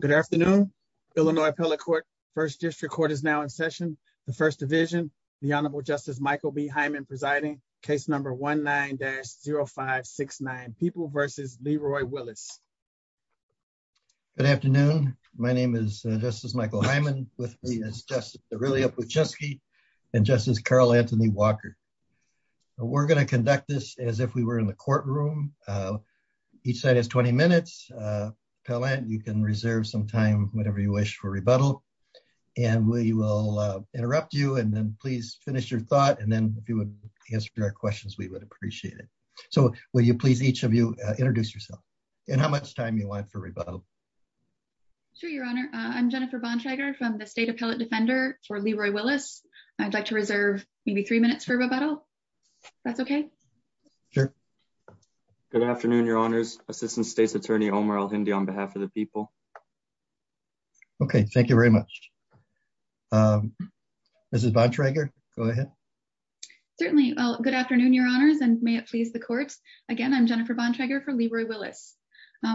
Good afternoon, Illinois Appellate Court. First District Court is now in session. The First Division, the Honorable Justice Michael B. Hyman presiding, case number 19-0569, People v. Leroy Willis. Good afternoon. My name is Justice Michael Hyman. With me is Justice Aurelia Pucheski and Justice Carl Anthony Walker. We're going to conduct this as if we were in the courtroom. Each side has 20 minutes. Appellant, you can reserve some time, whatever you wish, for rebuttal. And we will interrupt you and then please finish your thought. And then if you would answer our questions, we would appreciate it. So will you please, each of you, introduce yourself and how much time you want for rebuttal. Sure, Your Honor. I'm Jennifer Bonshiger from the State Appellate Defender for Leroy Willis. I'd like to reserve maybe three minutes for rebuttal. If that's okay. Sure. Good afternoon, Your Honors. Assistant State's Attorney Omar El-Hindi on behalf of the people. Okay, thank you very much. Mrs. Bonshiger, go ahead. Certainly. Good afternoon, Your Honors, and may it please the Court. Again, I'm Jennifer Bonshiger from Leroy Willis.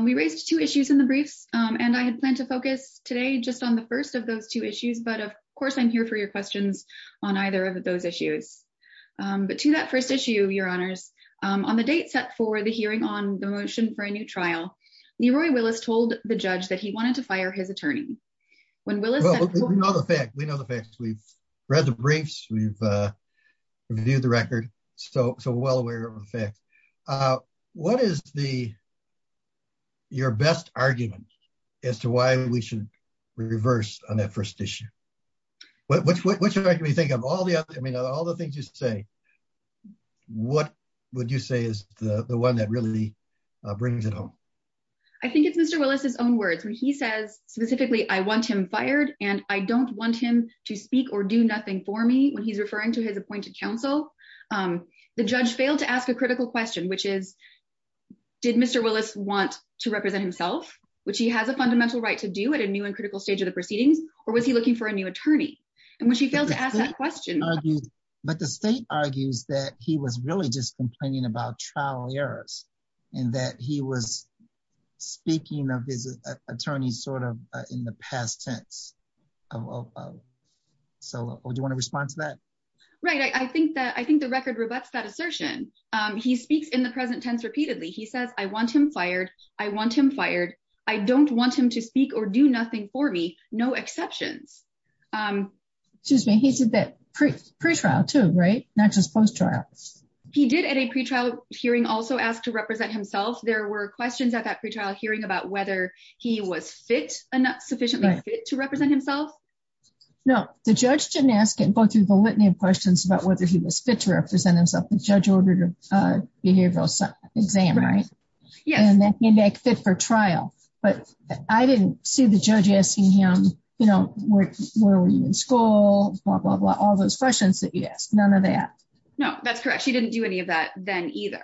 We raised two issues in the briefs and I had planned to focus today just on the first of those two issues, but of course I'm here for your questions on either of those issues. But to that first issue, Your Honors, on the date set for the hearing on the motion for a new trial, Leroy Willis told the judge that he wanted to fire his attorney. We know the facts. We've read the briefs, we've reviewed the record, so we're well aware of the facts. What is your best argument as to why we should reverse on that first issue? What's your argument? I mean, of all the things you say, what would you say is the one that really brings it home? I think it's Mr. Willis' own words when he says specifically, I want him fired and I don't want him to speak or do nothing for me when he's referring to his appointed counsel. The judge failed to ask a critical question, which is, did Mr. Willis want to represent himself, which he has a fundamental right to do at a new and critical stage of the proceedings, or was he looking for a new attorney? And when she failed to ask that question. But the state argues that he was really just complaining about trial errors and that he was speaking of his attorney sort of in the past tense. So would you want to respond to that? Right. I think that I think the record rebuts that assertion. He speaks in the present tense repeatedly. He says, I want him fired. I want excuse me. He said that pre-trial too, right? Not just post-trial. He did at a pre-trial hearing also ask to represent himself. There were questions at that pre-trial hearing about whether he was fit enough, sufficiently fit to represent himself. No, the judge didn't ask him both through the litany of questions about whether he was fit to represent himself. The judge ordered a behavioral exam, right? And that made that fit for trial. But I didn't see the judge asking him, you know, where were you in school, blah, blah, blah, all those questions that you asked. None of that. No, that's correct. She didn't do any of that then either.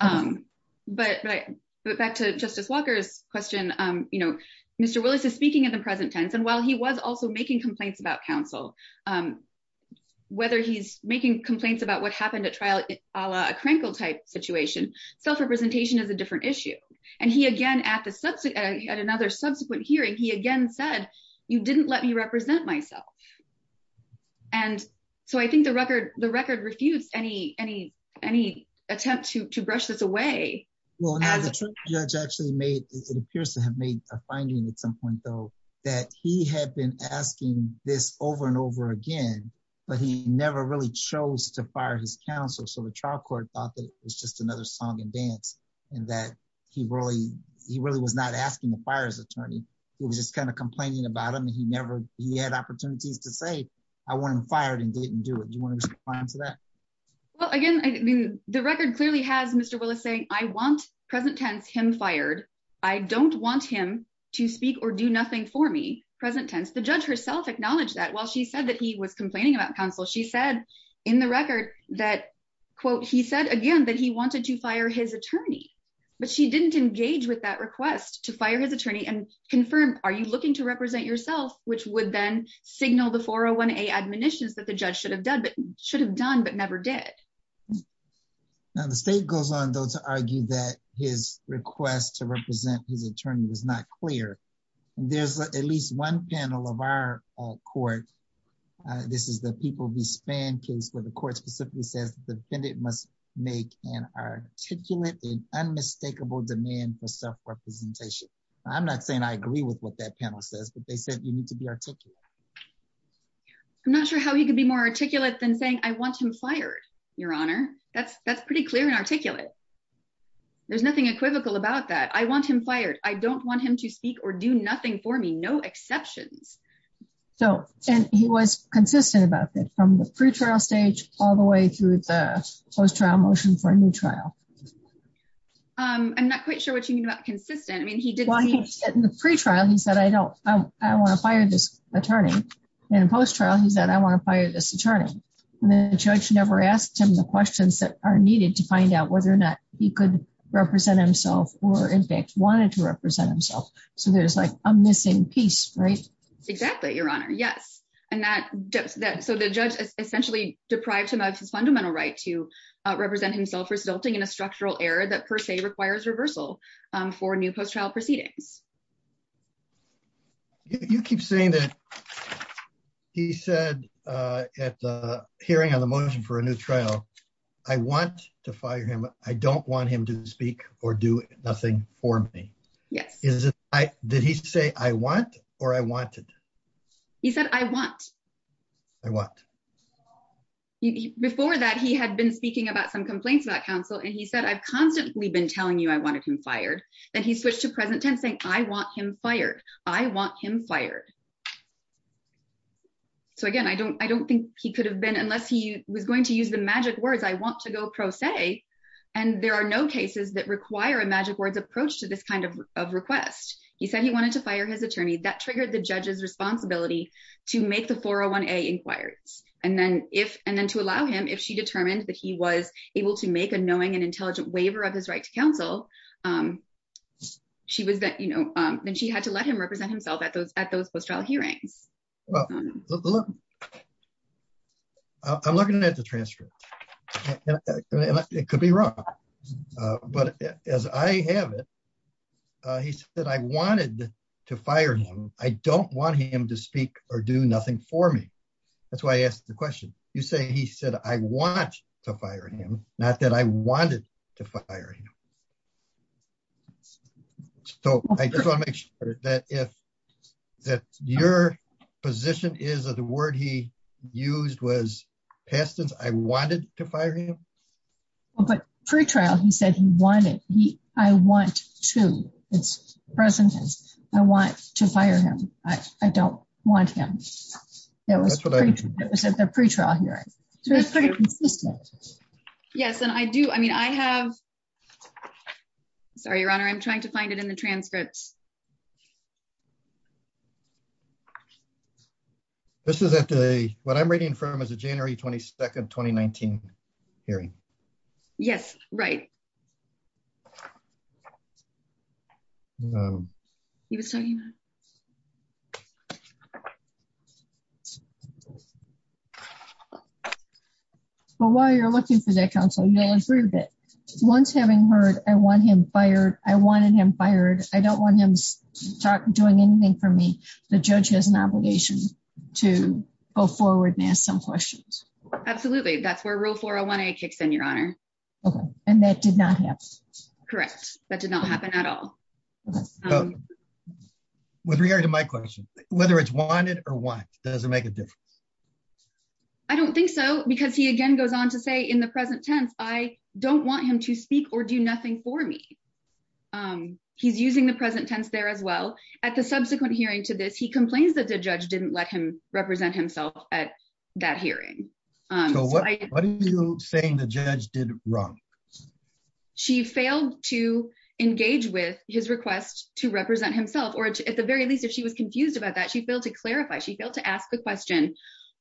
But back to Justice Walker's question, you know, Mr. Willis is speaking in the present tense. And while he was also making complaints about counsel, whether he's making complaints about what happened at trial, a crankle type situation, self-representation is a different issue. And he again, at another subsequent hearing, he again said, you didn't let me represent myself. And so I think the record refutes any attempt to brush this away. Well, now the trial judge actually made, it appears to have made a finding at some point though, that he had been asking this over and over again, but he never really chose to fire his counsel. So the trial court thought that it was another song and dance and that he really, he really was not asking to fire his attorney. He was just kind of complaining about him and he never, he had opportunities to say, I want him fired and didn't do it. Do you want to respond to that? Well, again, I mean, the record clearly has Mr. Willis saying, I want present tense him fired. I don't want him to speak or do nothing for me, present tense. The judge herself acknowledged that while she said that he was complaining about counsel, she said in the record that quote, he said again, that he wanted to fire his attorney, but she didn't engage with that request to fire his attorney and confirm, are you looking to represent yourself, which would then signal the 401A admonitions that the judge should have done, but should have done, but never did. Now the state goes on though, to argue that his request to people be spanned case where the court specifically says the defendant must make an articulate and unmistakable demand for self-representation. I'm not saying I agree with what that panel says, but they said you need to be articulate. I'm not sure how he could be more articulate than saying I want him fired, your honor. That's, that's pretty clear and articulate. There's nothing equivocal about that. I want him fired. I don't want him to speak or do nothing for me, no exceptions. So, and he was consistent about that from the pre-trial stage all the way through the post-trial motion for a new trial. I'm not quite sure what you mean about consistent. I mean, he did in the pre-trial. He said, I don't, I want to fire this attorney and post-trial. He said, I want to fire this attorney and then the judge never asked him the questions that are needed to find out whether or not he could represent himself or in fact wanted to represent himself. So there's like a missing piece, right? Exactly, your honor. Yes. And that, that, so the judge essentially deprived him of his fundamental right to represent himself for resulting in a structural error that per se requires reversal for new post-trial proceedings. You keep saying that he said at the hearing on the motion for a new trial, I want to fire him. I don't want him to speak or do nothing for me. Yes. Is it, I, did he say I want, or I wanted? He said, I want. I want. Before that he had been speaking about some complaints about counsel and he said, I've constantly been telling you I wanted him fired. Then he switched to present tense saying, I want him fired. I want him fired. So again, I don't, I don't think he could have been, unless he was going to use the magic words, I want to go pro se. And there are no cases that require a magic words approach to this kind of of request. He said he wanted to fire his attorney that triggered the judge's responsibility to make the 401A inquiries. And then if, and then to allow him, if she determined that he was able to make a knowing and intelligent waiver of his right to counsel, she was that, you know then she had to let him represent himself at those, at those post-trial hearings. I'm looking at the transcript. It could be wrong, but as I have it, he said, I wanted to fire him. I don't want him to speak or do nothing for me. That's why I asked the question. You say, he said, I want to fire him. Not that I wanted to fire him. So I just want to make sure that if that's your position is that the word he used was past tense. I wanted to fire him. Well, but pre-trial, he said he wanted, he, I want to, it's present tense. I want to fire him. I don't want him. That was at the pre-trial hearing. That's pretty consistent. Yes. And I do, I mean, I have, sorry, your honor, I'm trying to find it in the transcripts. This is at the, what I'm reading from is a January 22nd, 2019 hearing. Yes. Right. No. He was talking about. But while you're looking for that counsel, you don't approve it. Once having heard, I want him fired. I wanted him fired. I don't want him to start doing anything for me. The judge has an obligation to go forward and ask some questions. Absolutely. That's where rule 401A kicks in, okay. And that did not happen. Correct. That did not happen at all. With regard to my question, whether it's wanted or what doesn't make a difference. I don't think so because he again goes on to say in the present tense, I don't want him to speak or do nothing for me. He's using the present tense there as well. At the subsequent hearing to this, he complains that the judge didn't let him represent himself at that hearing. So what are you saying the judge did wrong? She failed to engage with his request to represent himself. Or at the very least, if she was confused about that, she failed to clarify. She failed to ask the question.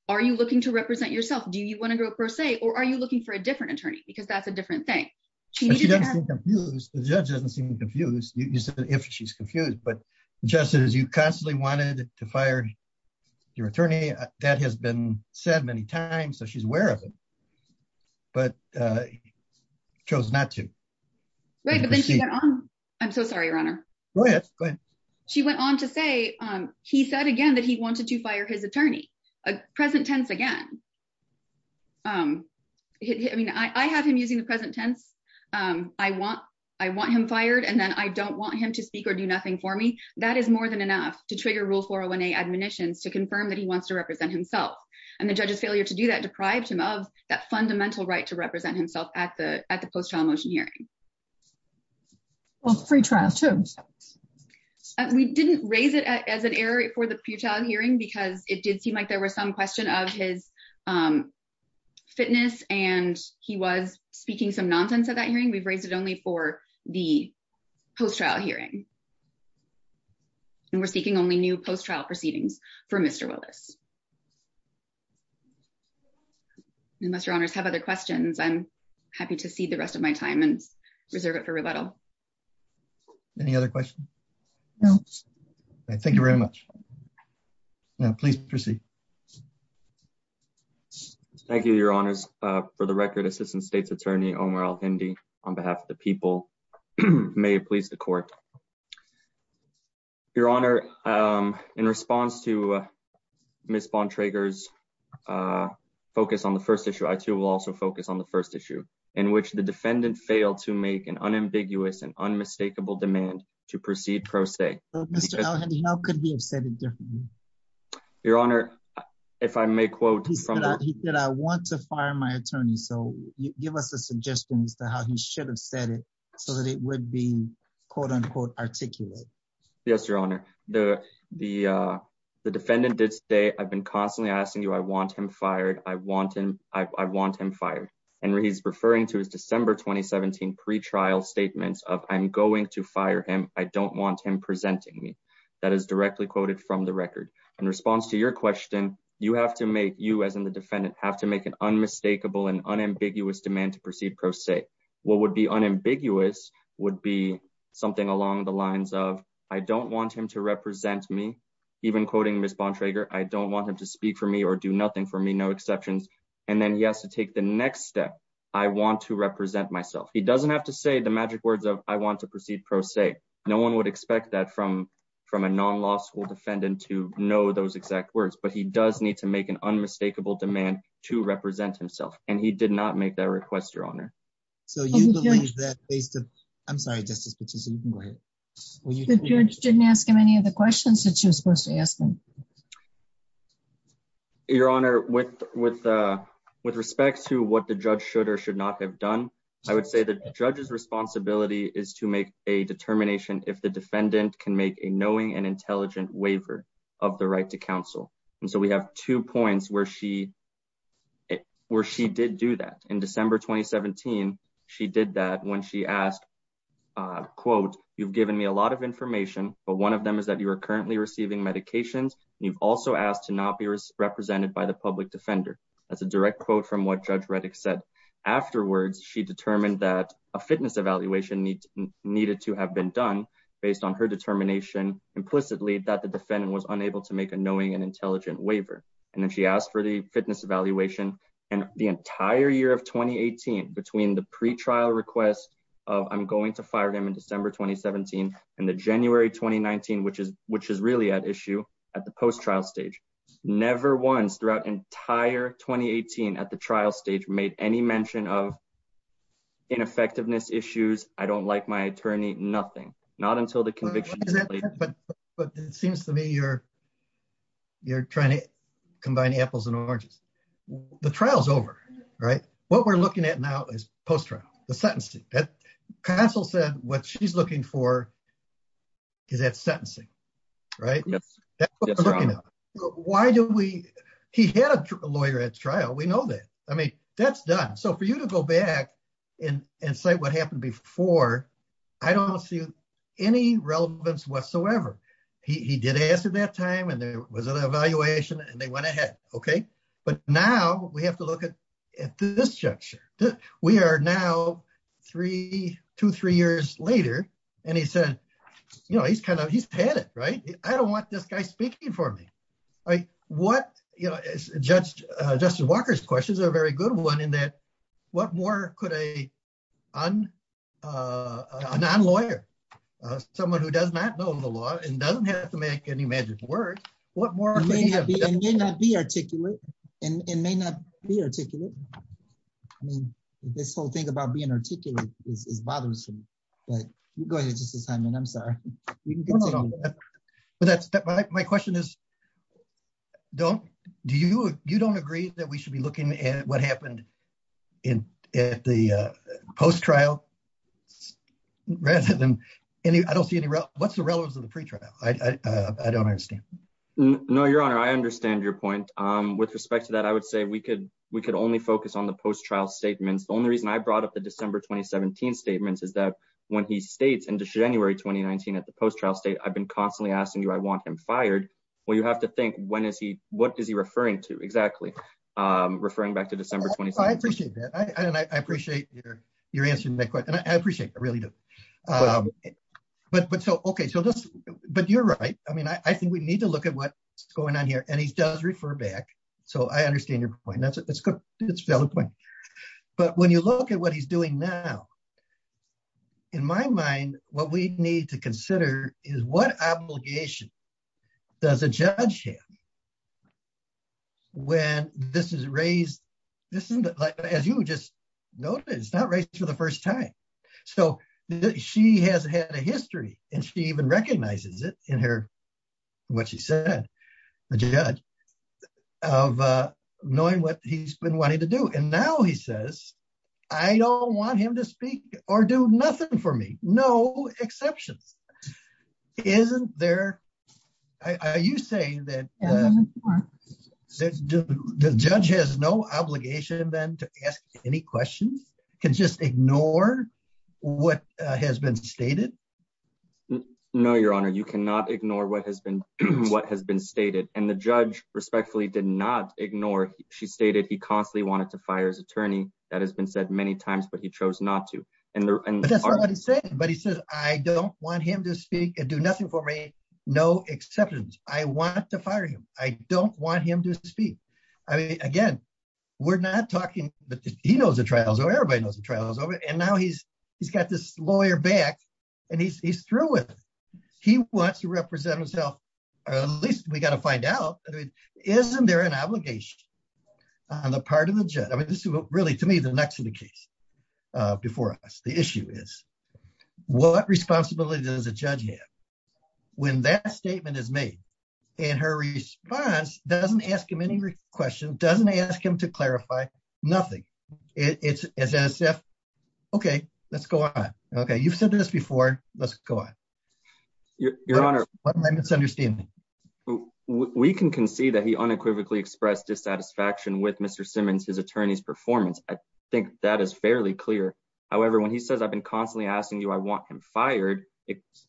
Are you looking to represent yourself? Do you want to go per se, or are you looking for a different attorney? Because that's a different thing. The judge doesn't seem confused. You said that if she's confused, but just as you constantly wanted to fire your attorney, that has been said many times. So she's aware of it, but chose not to. I'm so sorry, your honor. She went on to say, he said again that he wanted to fire his attorney. Present tense again. I have him using the present tense. I want him fired. And then I don't want him to speak or do nothing for me. That is more than enough to trigger rule 401A admonitions to confirm that he wants to represent himself. And the judge's failure to do that deprived him of that fundamental right to represent himself at the post-trial motion hearing. Free trial too. We didn't raise it as an error for the pretrial hearing because it did seem like there was some question of his fitness and he was speaking some nonsense at that hearing. We've raised it only for the post-trial hearing and we're seeking only new post-trial proceedings for Mr. Willis. Unless your honors have other questions, I'm happy to see the rest of my time and reserve it for rebuttal. Any other questions? No. Thank you very much. Please proceed. Thank you, your honors. For the record, assistant state's attorney, Omar Al-Hindi, on behalf of the people, may it please the court. Your honor, in response to Ms. Bontrager's focus on the first issue, I too will also focus on the first issue in which the defendant failed to make an unambiguous and unmistakable demand to proceed pro se. Mr. Al-Hindi, how could we have said it differently? Your honor, if I may quote. He said, I want to fire my attorney. So give us a suggestion as to how he should have said it so that it would be, quote unquote, articulate. Yes, your honor. The defendant did say, I've been constantly asking you, I want him fired. I want him fired. And he's referring to his December, 2017 pre-trial statements of I'm going to fire him. I don't want him presenting me. That is directly quoted from the record. In response to your question, you have to make, you as in the defendant have to make an unmistakable and unambiguous demand to proceed pro se. What would be unambiguous would be something along the lines of, I don't want him to represent me. Even quoting Ms. Bontrager, I don't want him to speak for me or do nothing for me, no exceptions. And then he has to take the next step. I want to represent myself. He doesn't have to say the magic words of I want to proceed pro se. No one would expect that from a non-law school defendant to know those exact words, but he does need to make an unmistakable demand to represent himself. And he did not make that request, your honor. So you believe that based on, I'm sorry, Justice Petito, you can go ahead. The judge didn't ask him any of the questions that she was supposed to ask him. Your honor, with respect to what the judge should or should not have done, I would say that the judge's responsibility is to make a determination if the defendant can make a knowing and intelligent waiver of the right to counsel. And so we have two points where she did do that. In December, 2017, she did that when she asked, quote, you've given me a lot of information, but one of them is that you are currently receiving medications and you've also asked to not be represented by the public defender. That's a direct quote from what Judge Reddick said. Afterwards, she determined that a fitness evaluation needed to have been done based on her determination implicitly that the defendant was unable to make a knowing and intelligent waiver. And then she asked for the fitness evaluation and the entire year of 2018 between the pre-trial request of I'm going to fire him in December 2017 and the January 2019, which is really at issue at the post-trial stage. Never once throughout entire 2018 at the trial stage made any mention of ineffectiveness issues. I don't like my attorney, nothing, not until the conviction. But it seems to me you're trying to combine apples and oranges. The trial's over, right? What we're looking at now is post-trial, the sentencing. Counsel said what she's looking for is at sentencing, right? That's what we're looking at. He had a lawyer at trial, we know that. I mean, that's done. So for you to go back and say what happened before, I don't see any relevance whatsoever. He did ask at that time and there was an evaluation and they went ahead, okay? But now we have to look at this juncture. We are now three, two, three years later and he said, you know, he's kind of, he's panic, right? I don't want this guy speaking for me. What, you know, Judge Walker's questions are a very good one in that what more could a non-lawyer, someone who does not know the law and doesn't have to make any magic words, what more could he have done? It may not be articulate. It may not be articulate. I mean, this whole thing about being articulate is bothersome, but you go ahead, Justice Hyndman, I'm sorry. My question is, you don't agree that we should be looking at what happened at the post-trial rather than any, I don't see any relevance. What's the relevance of the pretrial? I don't understand. No, Your Honor, I understand your point. With respect to that, I would say we could only focus on the post-trial statements. The only reason I brought up the at the post-trial state, I've been constantly asking you, I want him fired. Well, you have to think when is he, what is he referring to exactly? Referring back to December 27th. I appreciate that. I appreciate you're answering that question. I appreciate it. I really do. But so, okay. So just, but you're right. I mean, I think we need to look at what's going on here and he does refer back. So I understand your point. That's a good point. But when you look at what he's doing now, in my mind, what we need to consider is what obligation does a judge have when this is raised? This isn't like, as you just noted, it's not right for the first time. So she has had a history and she even recognizes it in her, what she said, the judge of knowing what he's been wanting to do. And now he says, I don't want him to speak or do nothing for me. No exceptions. Isn't there, are you saying that the judge has no obligation then to ask any questions? Can just ignore what has been stated? No, your honor, you cannot ignore what has been stated. And the judge respectfully did not ignore. She stated he constantly wanted to fire his attorney. That has been said many times, but he chose not to. But that's not what he said. But he says, I don't want him to speak and do nothing for me. No exceptions. I want to fire him. I don't want him to speak. I mean, again, we're not talking, he knows the trials. Everybody knows the trials. And now he's got this lawyer back and he's through with it. He wants to or at least we got to find out. I mean, isn't there an obligation on the part of the judge? I mean, this is really to me, the next to the case before us. The issue is what responsibility does a judge have when that statement is made and her response doesn't ask him any question, doesn't ask him to clarify nothing. It's as if, okay, let's go on. Okay. You've said this before. Let's go on. Your honor, let's understand. We can concede that he unequivocally expressed dissatisfaction with Mr. Simmons, his attorney's performance. I think that is fairly clear. However, when he says, I've been constantly asking you, I want him fired.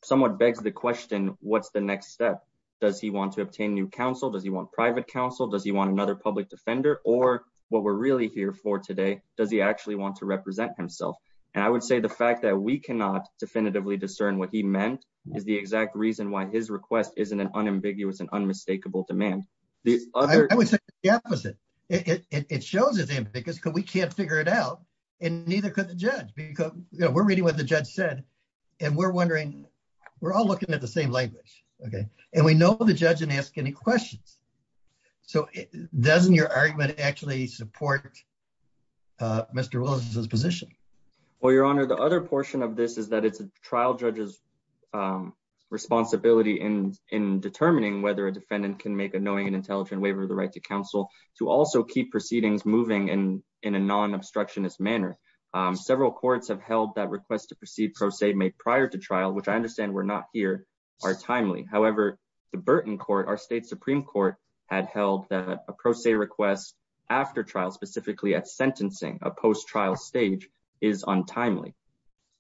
Someone begs the question, what's the next step? Does he want to obtain new counsel? Does he want private counsel? Does he want another public defender or what we're really here for today? Does he actually want to represent himself? And I would say the fact that we cannot definitively discern what he meant is the exact reason why his request isn't an unambiguous and unmistakable demand. I would say the opposite. It shows us because we can't figure it out and neither could the judge, because we're reading what the judge said and we're wondering, we're all looking at the same language. Okay. And we know the judge didn't ask any questions. So doesn't your argument actually support Mr. Willis' position? Well, your honor, the other portion of this is that it's a trial judge's responsibility in determining whether a defendant can make a knowing and intelligent waiver of the right to counsel to also keep proceedings moving in a non-obstructionist manner. Several courts have held that requests to proceed pro se made prior to trial, which I understand we're not here, are timely. However, the Burton court, our state Supreme court, had held that a pro se request after trial, specifically at sentencing, a post-trial stage, is untimely.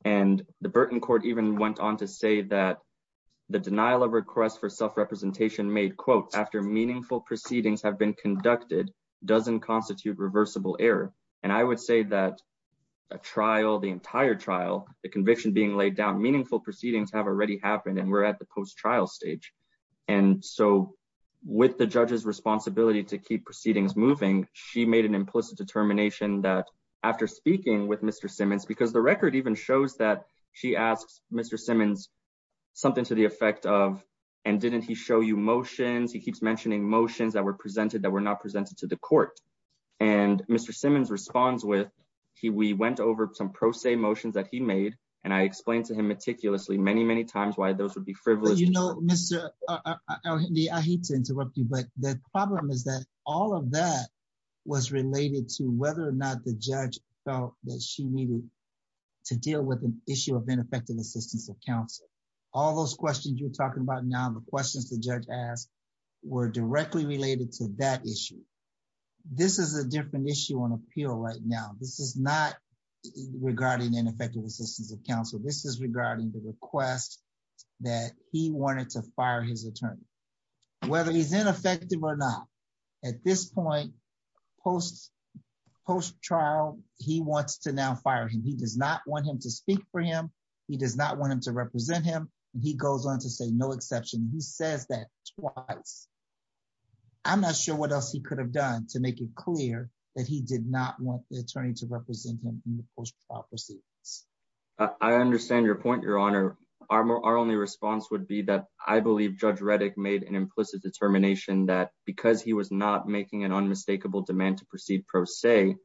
And the Burton court even went on to say that the denial of request for self representation made, quote, after meaningful proceedings have been conducted, doesn't constitute reversible error. And I would say that a trial, the entire trial, the conviction being laid down, meaningful proceedings have already happened and we're at the post-trial stage. And so with the judge's responsibility to keep proceedings moving, she made an implicit determination that after speaking with Mr. Simmons, because the record even shows that she asks Mr. Simmons something to the effect of, and didn't he show you motions? He keeps mentioning motions that were presented that were not presented to the court. And Mr. Simmons responds with, we went over some pro se motions that he made, and I explained to him meticulously many, many times why those would be frivolous. You know, I hate to interrupt you, but the problem is that all of that was related to whether or not the judge felt that she needed to deal with an issue of ineffective assistance of counsel. All those questions you're talking about now, the questions the judge asked were directly related to that issue. This is a different issue on appeal right now. This is not regarding ineffective assistance of counsel. This is regarding the request that he wanted to fire his attorney, whether he's ineffective or not. At this point, post-trial, he wants to now fire him. He does not want him to speak for him. He does not want him to represent him. And he goes on to say no exception. He says that twice. I'm not sure what else he could have done to make it clear that he did not want the attorney to represent him in the post-trial proceedings. I understand your point, Your Honor. Our only response would be that I believe Judge Reddick made an implicit determination that because he was not making an unmistakable demand to proceed pro se,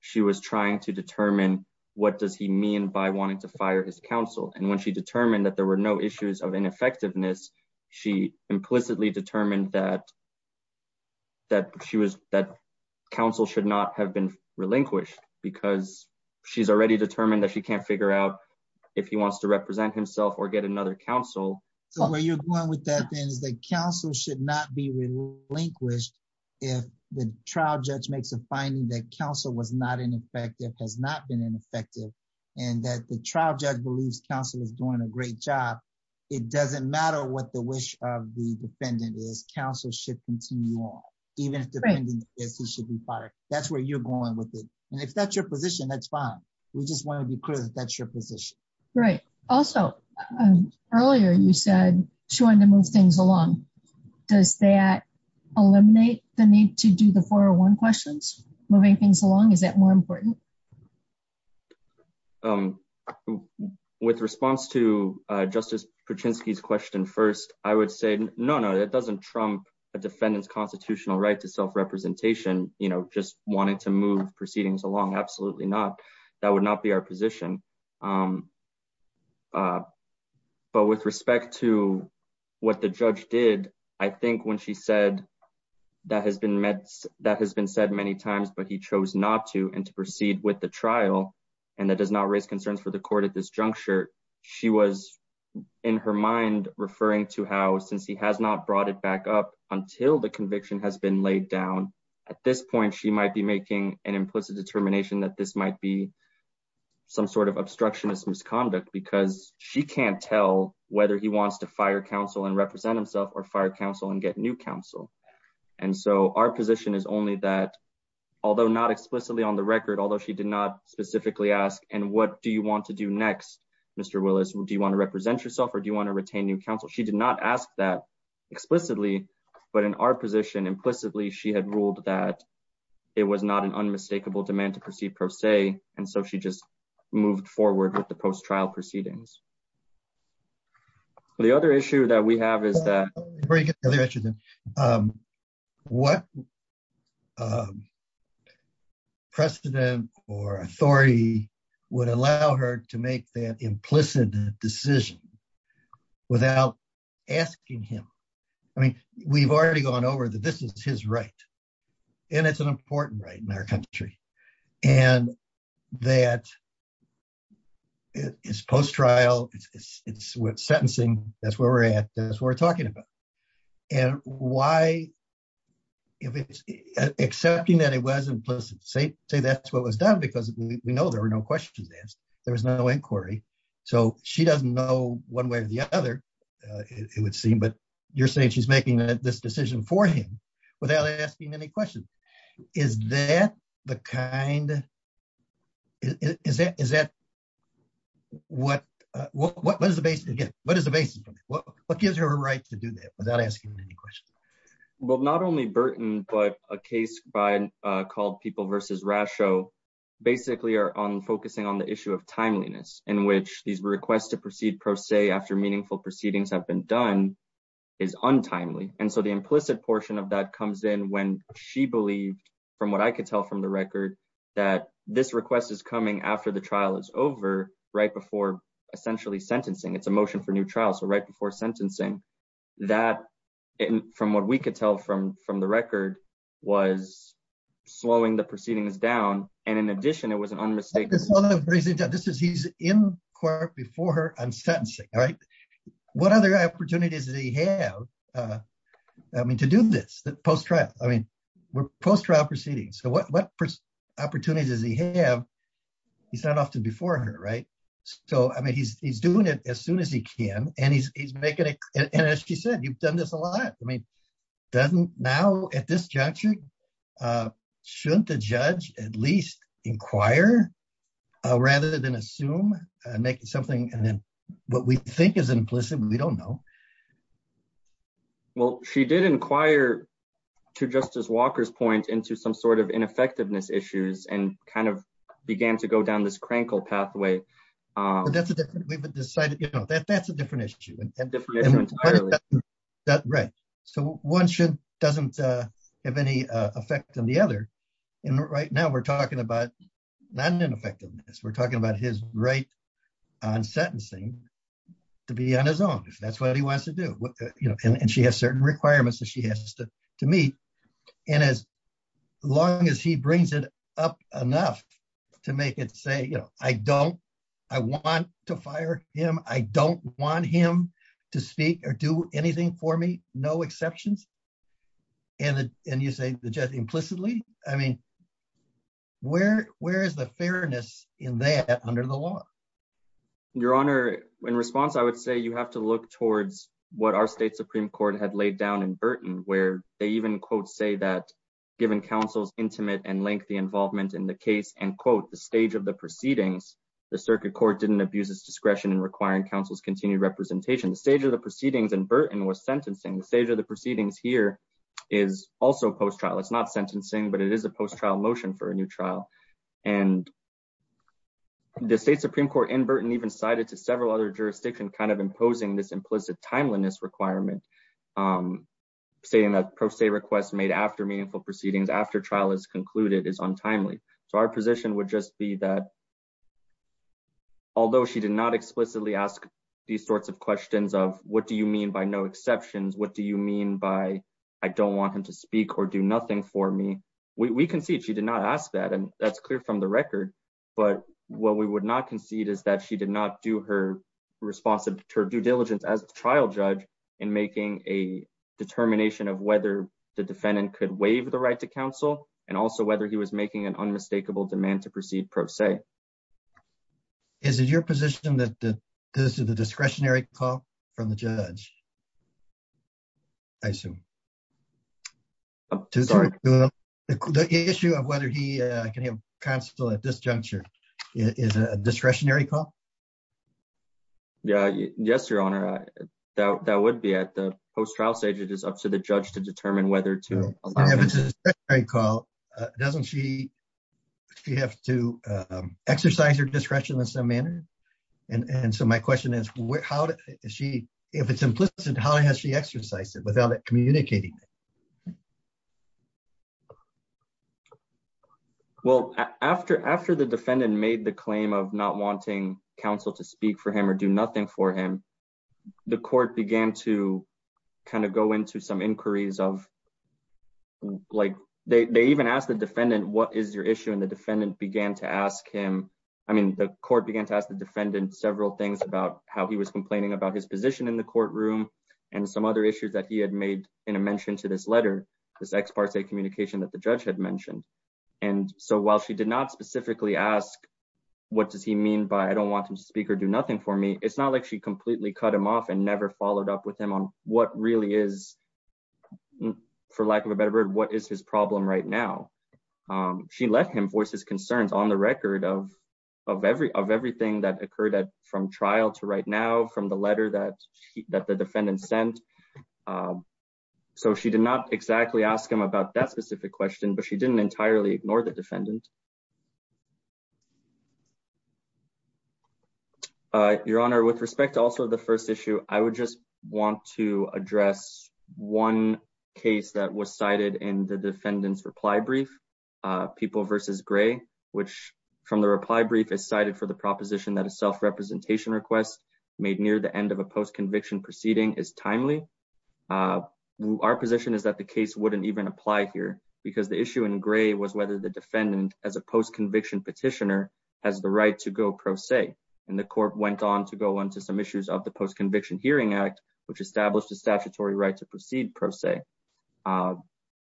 she was trying to determine what does he mean by wanting to fire his counsel. And when she determined that there were no issues of ineffectiveness, she implicitly determined that counsel should not have been relinquished. She's already determined that she can't figure out if he wants to represent himself or get another counsel. So where you're going with that, then, is that counsel should not be relinquished if the trial judge makes a finding that counsel was not ineffective, has not been ineffective, and that the trial judge believes counsel is doing a great job. It doesn't matter what the wish of the defendant is. Counsel should continue on. Even if the defendant is, he should be fired. That's where you're going with it. And if that's your position, that's fine. We just want to be clear that that's your position. Right. Also, earlier you said she wanted to move things along. Does that eliminate the need to do the 401 questions, moving things along? Is that more important? With response to Justice Pachinksi's question first, I would say no, no, that doesn't trump a defendant's constitutional right to self-representation. Just wanting to move proceedings along, absolutely not. That would not be our position. But with respect to what the judge did, I think when she said that has been said many times, but he chose not to and to proceed with the trial and that does not raise concerns for the court at this juncture, she was in her referring to how since he has not brought it back up until the conviction has been laid down, at this point she might be making an implicit determination that this might be some sort of obstructionist misconduct because she can't tell whether he wants to fire counsel and represent himself or fire counsel and get new counsel. And so our position is only that, although not explicitly on the record, although she did not specifically ask, and what do you want to do next, Mr. Willis? Do you want to represent yourself or do you want to retain new counsel? She did not ask that explicitly, but in our position, implicitly, she had ruled that it was not an unmistakable demand to proceed per se. And so she just moved forward with the post-trial proceedings. The other issue that we have is that what precedent or authority would allow her to make that implicit decision without asking him? I mean, we've already gone over that this is his right and it's an important right in our country and that it's post-trial, it's with sentencing, that's where we're at, that's what we're talking about. And why, if it's accepting that it was implicit, say that's what was done because we know there were no questions asked, there was no inquiry. So she doesn't know one way or the other, it would seem, but you're saying she's making this decision for him without asking any questions. Is that what gives her a right to do that without asking any questions? Well, not only Burton, but a case called People versus Rasho basically are focusing on the issue of timeliness in which these requests to proceed per se after meaningful proceedings have been done is untimely. And so the implicit portion of that comes in when she believed, from what I could tell from the record, that this request is coming after the trial is over, right before essentially sentencing. That, from what we could tell from the record, was slowing the proceedings down and in addition it was an unmistakable... He's in court before her on sentencing, right? What other opportunities does he have to do this post-trial? I mean, we're post-trial proceedings, so what opportunities does he have? He's not often before her, right? So, I mean, he's doing it as and as she said, you've done this a lot. I mean, doesn't now at this juncture, shouldn't the judge at least inquire rather than assume and make something and then what we think is implicit, we don't know. Well, she did inquire, to Justice Walker's point, into some sort of ineffectiveness issues and kind of began to go down this crankle pathway. That's a different issue. So, one doesn't have any effect on the other and right now we're talking about not ineffectiveness, we're talking about his right on sentencing to be on his own, if that's what he wants to do. And she has certain requirements that she has to meet and as long as he brings it up enough to make it say, you know, I don't, I want to fire him, I don't want him to speak or do anything for me, no exceptions. And you say the judge implicitly, I mean, where is the fairness in that under the law? Your Honor, in response, I would say you have to look towards what our state Supreme Court had laid down in Burton where they even quote say that given counsel's intimate and lengthy involvement in the case and quote the stage of the proceedings, the circuit court didn't abuse its discretion in requiring counsel's continued representation. The stage of the proceedings in Burton was sentencing. The stage of the proceedings here is also post-trial. It's not sentencing, but it is a post-trial motion for a new trial. And the state Supreme Court in Burton even cited to several other jurisdictions kind of imposing this implicit timeliness requirement, saying that pro se request made after meaningful proceedings after trial is concluded is untimely. So our position would just be that although she did not explicitly ask these sorts of questions of what do you mean by no exceptions? What do you mean by I don't want him to speak or do nothing for me? We concede she did not ask that and that's clear from the record, but what we would not concede is that she did not do her due diligence as a trial judge in making a determination of whether the defendant could waive the right to counsel and also whether he was making an unmistakable demand to proceed pro se. Is it your position that this is a discretionary call from the judge? I assume. The issue of whether he can have counsel at this juncture is a discretionary call? Yeah, yes, your honor. That would be at the post-trial stage. It is up to the judge to determine whether to allow. If it's a discretionary call, doesn't she have to exercise her discretion in some manner? And so my question is, how does she, if it's implicit, how has she exercised it without it communicating? Well, after the defendant made the claim of not wanting counsel to speak for him or do nothing for him, the court began to kind of go into some inquiries of like, they even asked the defendant, what is your issue? And the defendant began to ask him, I mean, the court began to ask the defendant several things about how he was complaining about his position in the courtroom and some other issues that he had made in a mention to this letter, this ex parte communication that the judge had mentioned. And so while she did not specifically ask, what does he mean by I don't want him to speak or do nothing for me? It's not like she completely cut him off and never followed up with him on what really is, for lack of a better word, what is his problem right now? She let him voice his concerns on the record of everything that defendant sent. So she did not exactly ask him about that specific question, but she didn't entirely ignore the defendant. Your honor, with respect to also the first issue, I would just want to address one case that was cited in the defendant's reply brief, people versus gray, which from the reply brief is cited for the proposition that a self-representation request made near the end of a post-conviction proceeding is timely. Our position is that the case wouldn't even apply here because the issue in gray was whether the defendant as a post-conviction petitioner has the right to go pro se. And the court went on to go on to some issues of the post-conviction hearing act, which established a statutory right to proceed pro se.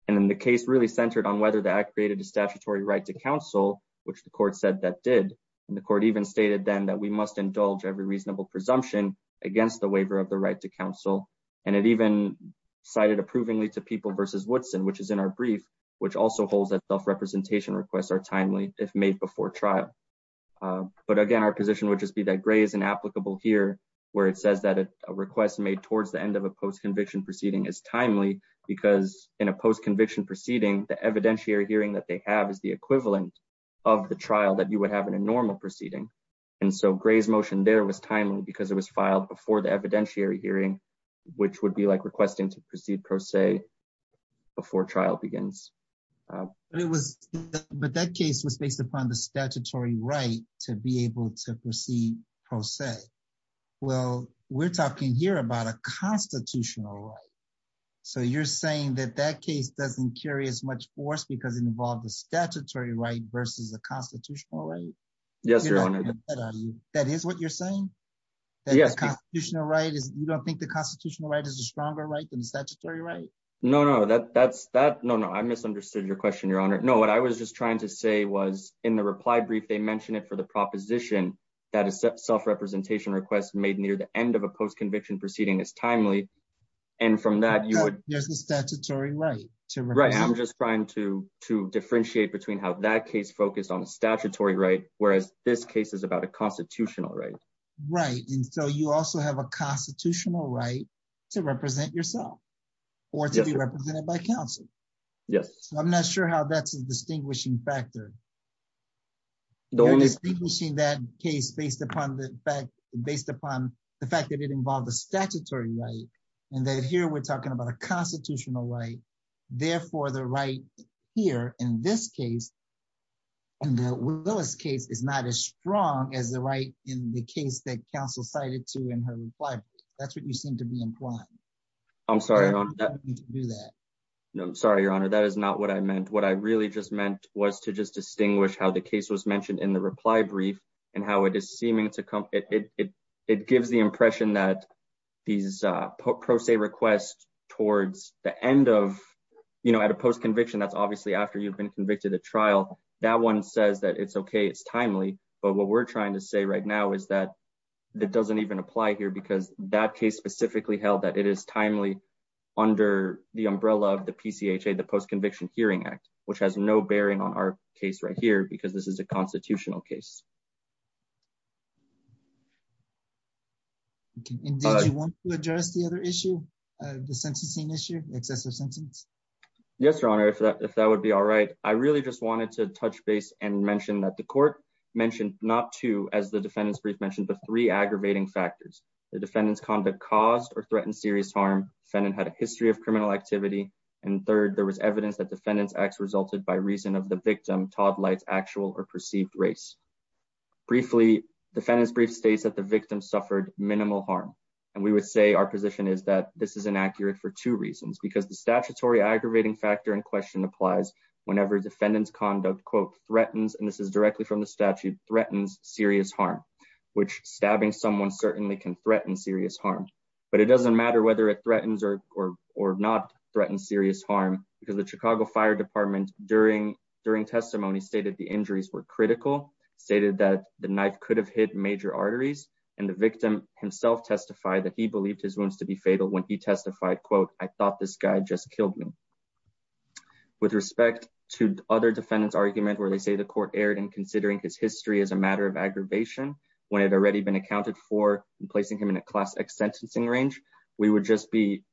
And then the case really centered on whether the act created a statutory right to counsel, which the court said that did. And the court even stated then that we must indulge every reasonable presumption against the waiver of the right to counsel. And it even cited approvingly to people versus Woodson, which is in our brief, which also holds that self-representation requests are timely if made before trial. But again, our position would just be that gray is an applicable here, where it says that a request made towards the end of a post-conviction proceeding is timely because in a post-conviction proceeding, the evidentiary hearing that they have is the normal proceeding. And so gray's motion there was timely because it was filed before the evidentiary hearing, which would be like requesting to proceed pro se before trial begins. But that case was based upon the statutory right to be able to proceed pro se. Well, we're talking here about a constitutional right. So you're saying that that case doesn't carry as much force because it involved the statutory right versus the constitutional right? Yes, Your Honor. That is what you're saying? You don't think the constitutional right is a stronger right than the statutory right? No, no. I misunderstood your question, Your Honor. No, what I was just trying to say was in the reply brief, they mentioned it for the proposition that a self-representation request made near the end of a post-conviction proceeding is timely. And from that, you would- to differentiate between how that case focused on the statutory right, whereas this case is about a constitutional right. Right, and so you also have a constitutional right to represent yourself or to be represented by counsel. Yes. I'm not sure how that's a distinguishing factor. You're distinguishing that case based upon the fact- based upon the fact that it involved the statutory right and that here we're talking about a constitutional right, therefore the right here in this case, in the Willis case, is not as strong as the right in the case that counsel cited to in her reply. That's what you seem to be implying. I'm sorry, Your Honor, that is not what I meant. What I really just meant was to just distinguish how the case was mentioned in the reply brief and how it is seeming to come- it gives the impression that these pro se requests towards the end of, you know, at a post-conviction, that's obviously after you've been convicted at trial, that one says that it's okay, it's timely, but what we're trying to say right now is that that doesn't even apply here because that case specifically held that it is timely under the umbrella of the PCHA, the Post-Conviction Hearing Act, which has no bearing on our case right here because this is a constitutional case. Okay, and did you want to address the other issue, the sentencing issue, excessive sentence? Yes, Your Honor, if that would be all right. I really just wanted to touch base and mention that the court mentioned not two, as the defendant's brief mentioned, but three aggravating factors. The defendant's conduct caused or threatened serious harm, defendant had a history of criminal activity, and third, there was evidence that defendant's acts resulted by reason of the briefly defendant's brief states that the victim suffered minimal harm, and we would say our position is that this is inaccurate for two reasons, because the statutory aggravating factor in question applies whenever defendant's conduct, quote, threatens, and this is directly from the statute, threatens serious harm, which stabbing someone certainly can threaten serious harm, but it doesn't matter whether it threatens or not threaten serious harm because the Chicago that the knife could have hit major arteries, and the victim himself testified that he believed his wounds to be fatal when he testified, quote, I thought this guy just killed me. With respect to other defendants' argument where they say the court erred in considering his history as a matter of aggravation when it had already been accounted for in placing him in a class X sentencing range, we would just be,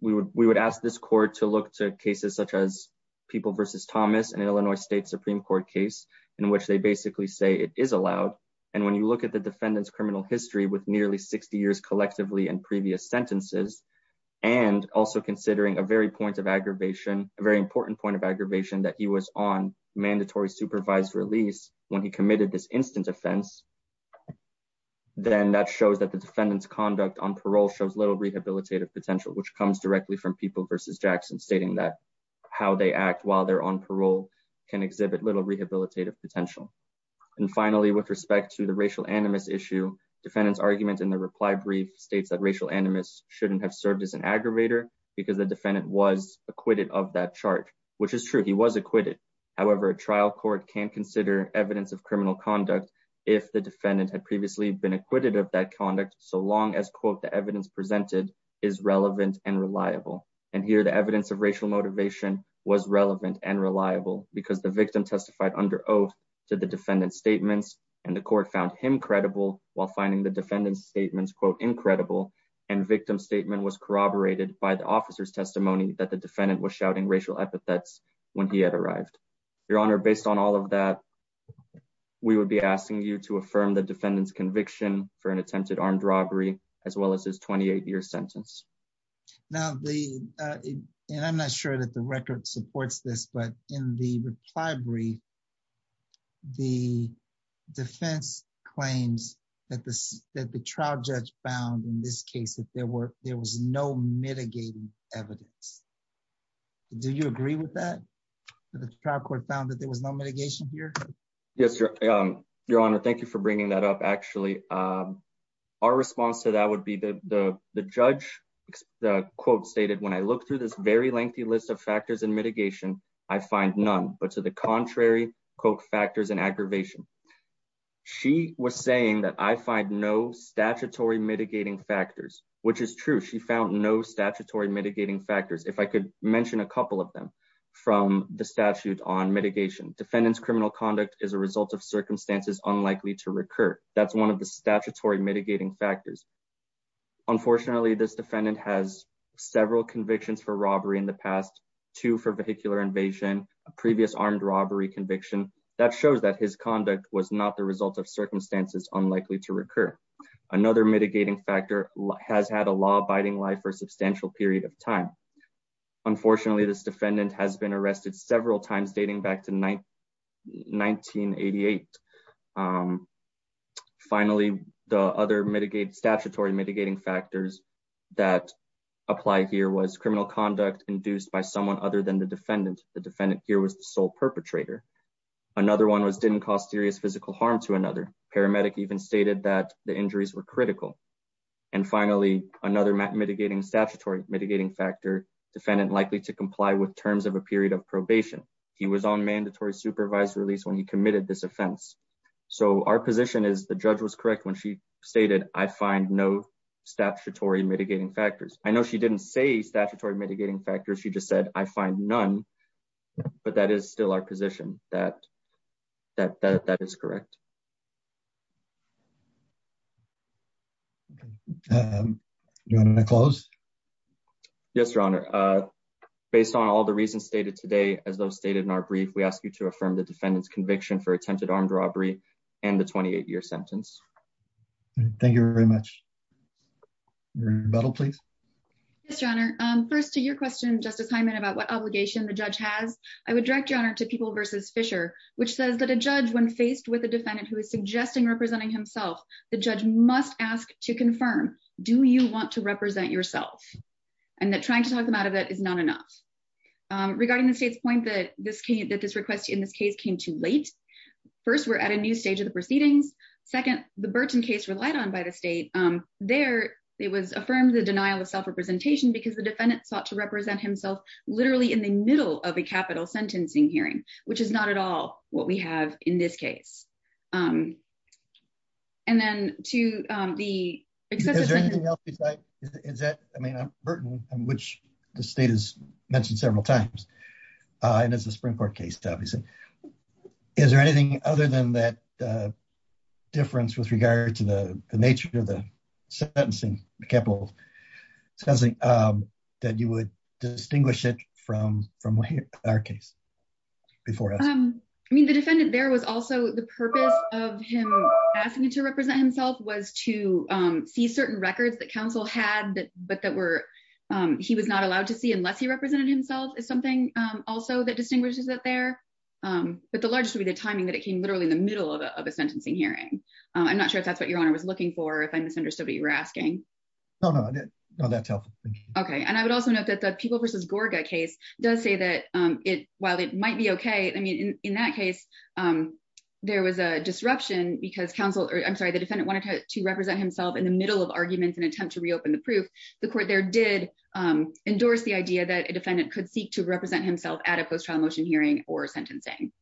we would ask this court to look to cases such as People v. Thomas and Illinois State Supreme Court case in which they basically say it is allowed, and when you look at the defendant's criminal history with nearly 60 years collectively and previous sentences, and also considering a very point of aggravation, a very important point of aggravation that he was on mandatory supervised release when he committed this instant offense, then that shows that the defendant's conduct on parole shows little rehabilitative potential, which comes directly from People v. Jackson stating that how they act while they're on parole can exhibit little rehabilitative potential. And finally, with respect to the racial animus issue, defendant's argument in the reply brief states that racial animus shouldn't have served as an aggravator because the defendant was acquitted of that charge, which is true, he was acquitted. However, a trial court can't consider evidence of criminal conduct if the defendant had previously been acquitted of that conduct so long as quote the evidence presented is relevant and reliable. And here the evidence of racial motivation was relevant and reliable because the victim testified under oath to the defendant's statements and the court found him credible while finding the defendant's statements quote incredible and victim statement was corroborated by the officer's testimony that the defendant was shouting racial epithets when he had arrived. Your Honor, based on all of that, we would be asking you to affirm the defendant's conviction for an attempted armed robbery as well as his 28 year sentence. Now the and I'm not sure that the record supports this, but in the reply brief, the defense claims that this that the trial judge found in this case that there were there was no mitigating evidence. Do you agree with that? The trial court found that there was no mitigation here? Yes, Your Honor. Thank you for bringing that up. Actually, our response to that would be the judge. The quote stated when I look through this very lengthy list of factors and mitigation, I find none but to the contrary quote factors and aggravation. She was saying that I find no statutory mitigating factors, which is true. She found no statutory mitigating factors. If I could mention a couple of them from the statute on mitigation defendants, criminal conduct is a result of circumstances unlikely to recur. That's one of the statutory mitigating factors. Unfortunately, this defendant has several convictions for robbery in the past two for vehicular invasion, a previous armed robbery conviction that shows that his conduct was not the result of circumstances unlikely to recur. Another mitigating factor has had a law life for a substantial period of time. Unfortunately, this defendant has been arrested several times dating back to 1988. Finally, the other mitigate statutory mitigating factors that apply here was criminal conduct induced by someone other than the defendant. The defendant here was the sole perpetrator. Another one was didn't cause serious physical harm to another paramedic even stated that the injuries were critical. And finally, another mitigating statutory mitigating factor defendant likely to comply with terms of a period of probation. He was on mandatory supervised release when he committed this offense. So our position is the judge was correct when she stated I find no statutory mitigating factors. I know she didn't say statutory mitigating factors. She just said I find none. But that is still our that that that is correct. You want to close? Yes, Your Honor. Based on all the reasons stated today, as those stated in our brief, we ask you to affirm the defendant's conviction for attempted armed robbery, and the 28 year sentence. Thank you very much. Your Honor. First to your question, Justice Hyman about what obligation the judge has, I would direct your honor to people versus Fisher, which says that a judge when faced with a defendant who is suggesting representing himself, the judge must ask to confirm, do you want to represent yourself, and that trying to talk them out of it is not enough. Regarding the state's point that this came that this request in this case came too late. First, we're at a new stage of the proceedings. Second, the Burton case relied on by the state. There, it was affirmed the denial of self representation because the defendant sought to represent himself, literally in the middle of a capital sentencing hearing, which is not at all what we have in this case. And then to the is that I mean, I'm Burton, which the state has mentioned several times. And as a Supreme Court case, obviously, is there anything other than that difference with regard to the nature of the sentencing capital says that you would distinguish it from from our case. Before, I mean, the defendant, there was also the purpose of him asking to represent himself was to see certain records that counsel had, but that were, he was not allowed to see unless he represented himself is something also that distinguishes it there. But the largest would be the timing that it came literally in the middle of a sentencing hearing. I'm not sure if that's what your honor was looking for, if I misunderstood you were asking. Oh, no, no, that's helpful. Okay. And I would also note that the people versus Gorga case does say that it while it might be okay. I mean, in that case, there was a disruption because counsel or I'm sorry, the defendant wanted to represent himself in the middle of arguments and attempt to reopen the proof. The court there did endorse the idea that a defendant could seek to represent himself at a post trial motion hearing or sentencing.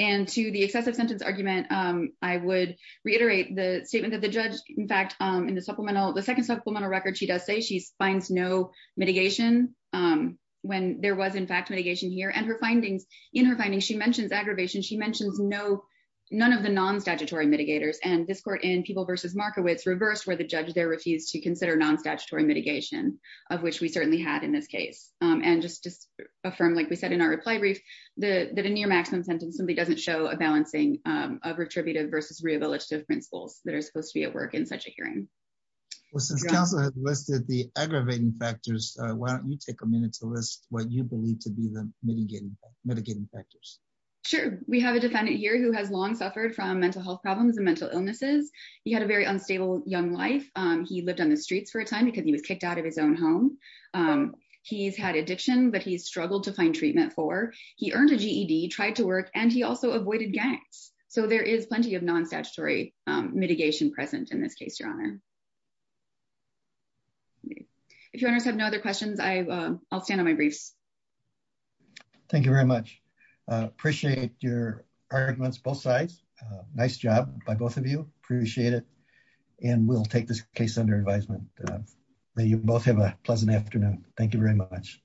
And to the excessive sentence argument, I would reiterate the statement that the judge, in fact, in the supplemental, the second supplemental record, she does say she's finds no mitigation. When there was in fact mitigation here and her findings in her findings, she mentions aggravation, she mentions no, none of the non statutory mitigators and this court in people versus Markowitz reversed where the judge there refused to consider non statutory mitigation, of which we certainly had in this case, and just just affirm like we said in our reply brief, the near maximum sentence simply doesn't show a balancing of retributive versus rehabilitative principles that are supposed to be at work in such a hearing. Well, since I listed the aggravating factors, why don't you take a minute to list what you believe to be the mitigating mitigating factors? Sure. We have a defendant here who has long suffered from mental health problems and mental illnesses. He had a very unstable young life. He lived on the streets for a time because he was kicked out of his own home. He's had addiction, but he struggled to find treatment for he earned a GED tried to work, and he also avoided gangs. So there is plenty of non statutory mitigation present in this case, Your Honor. If you have no other questions, I'll stand on my briefs. Thank you very much. Appreciate your arguments both sides. Nice job by both of you. Appreciate it. And we'll take this case under advisement. May you both have a pleasant afternoon. Thank you very much.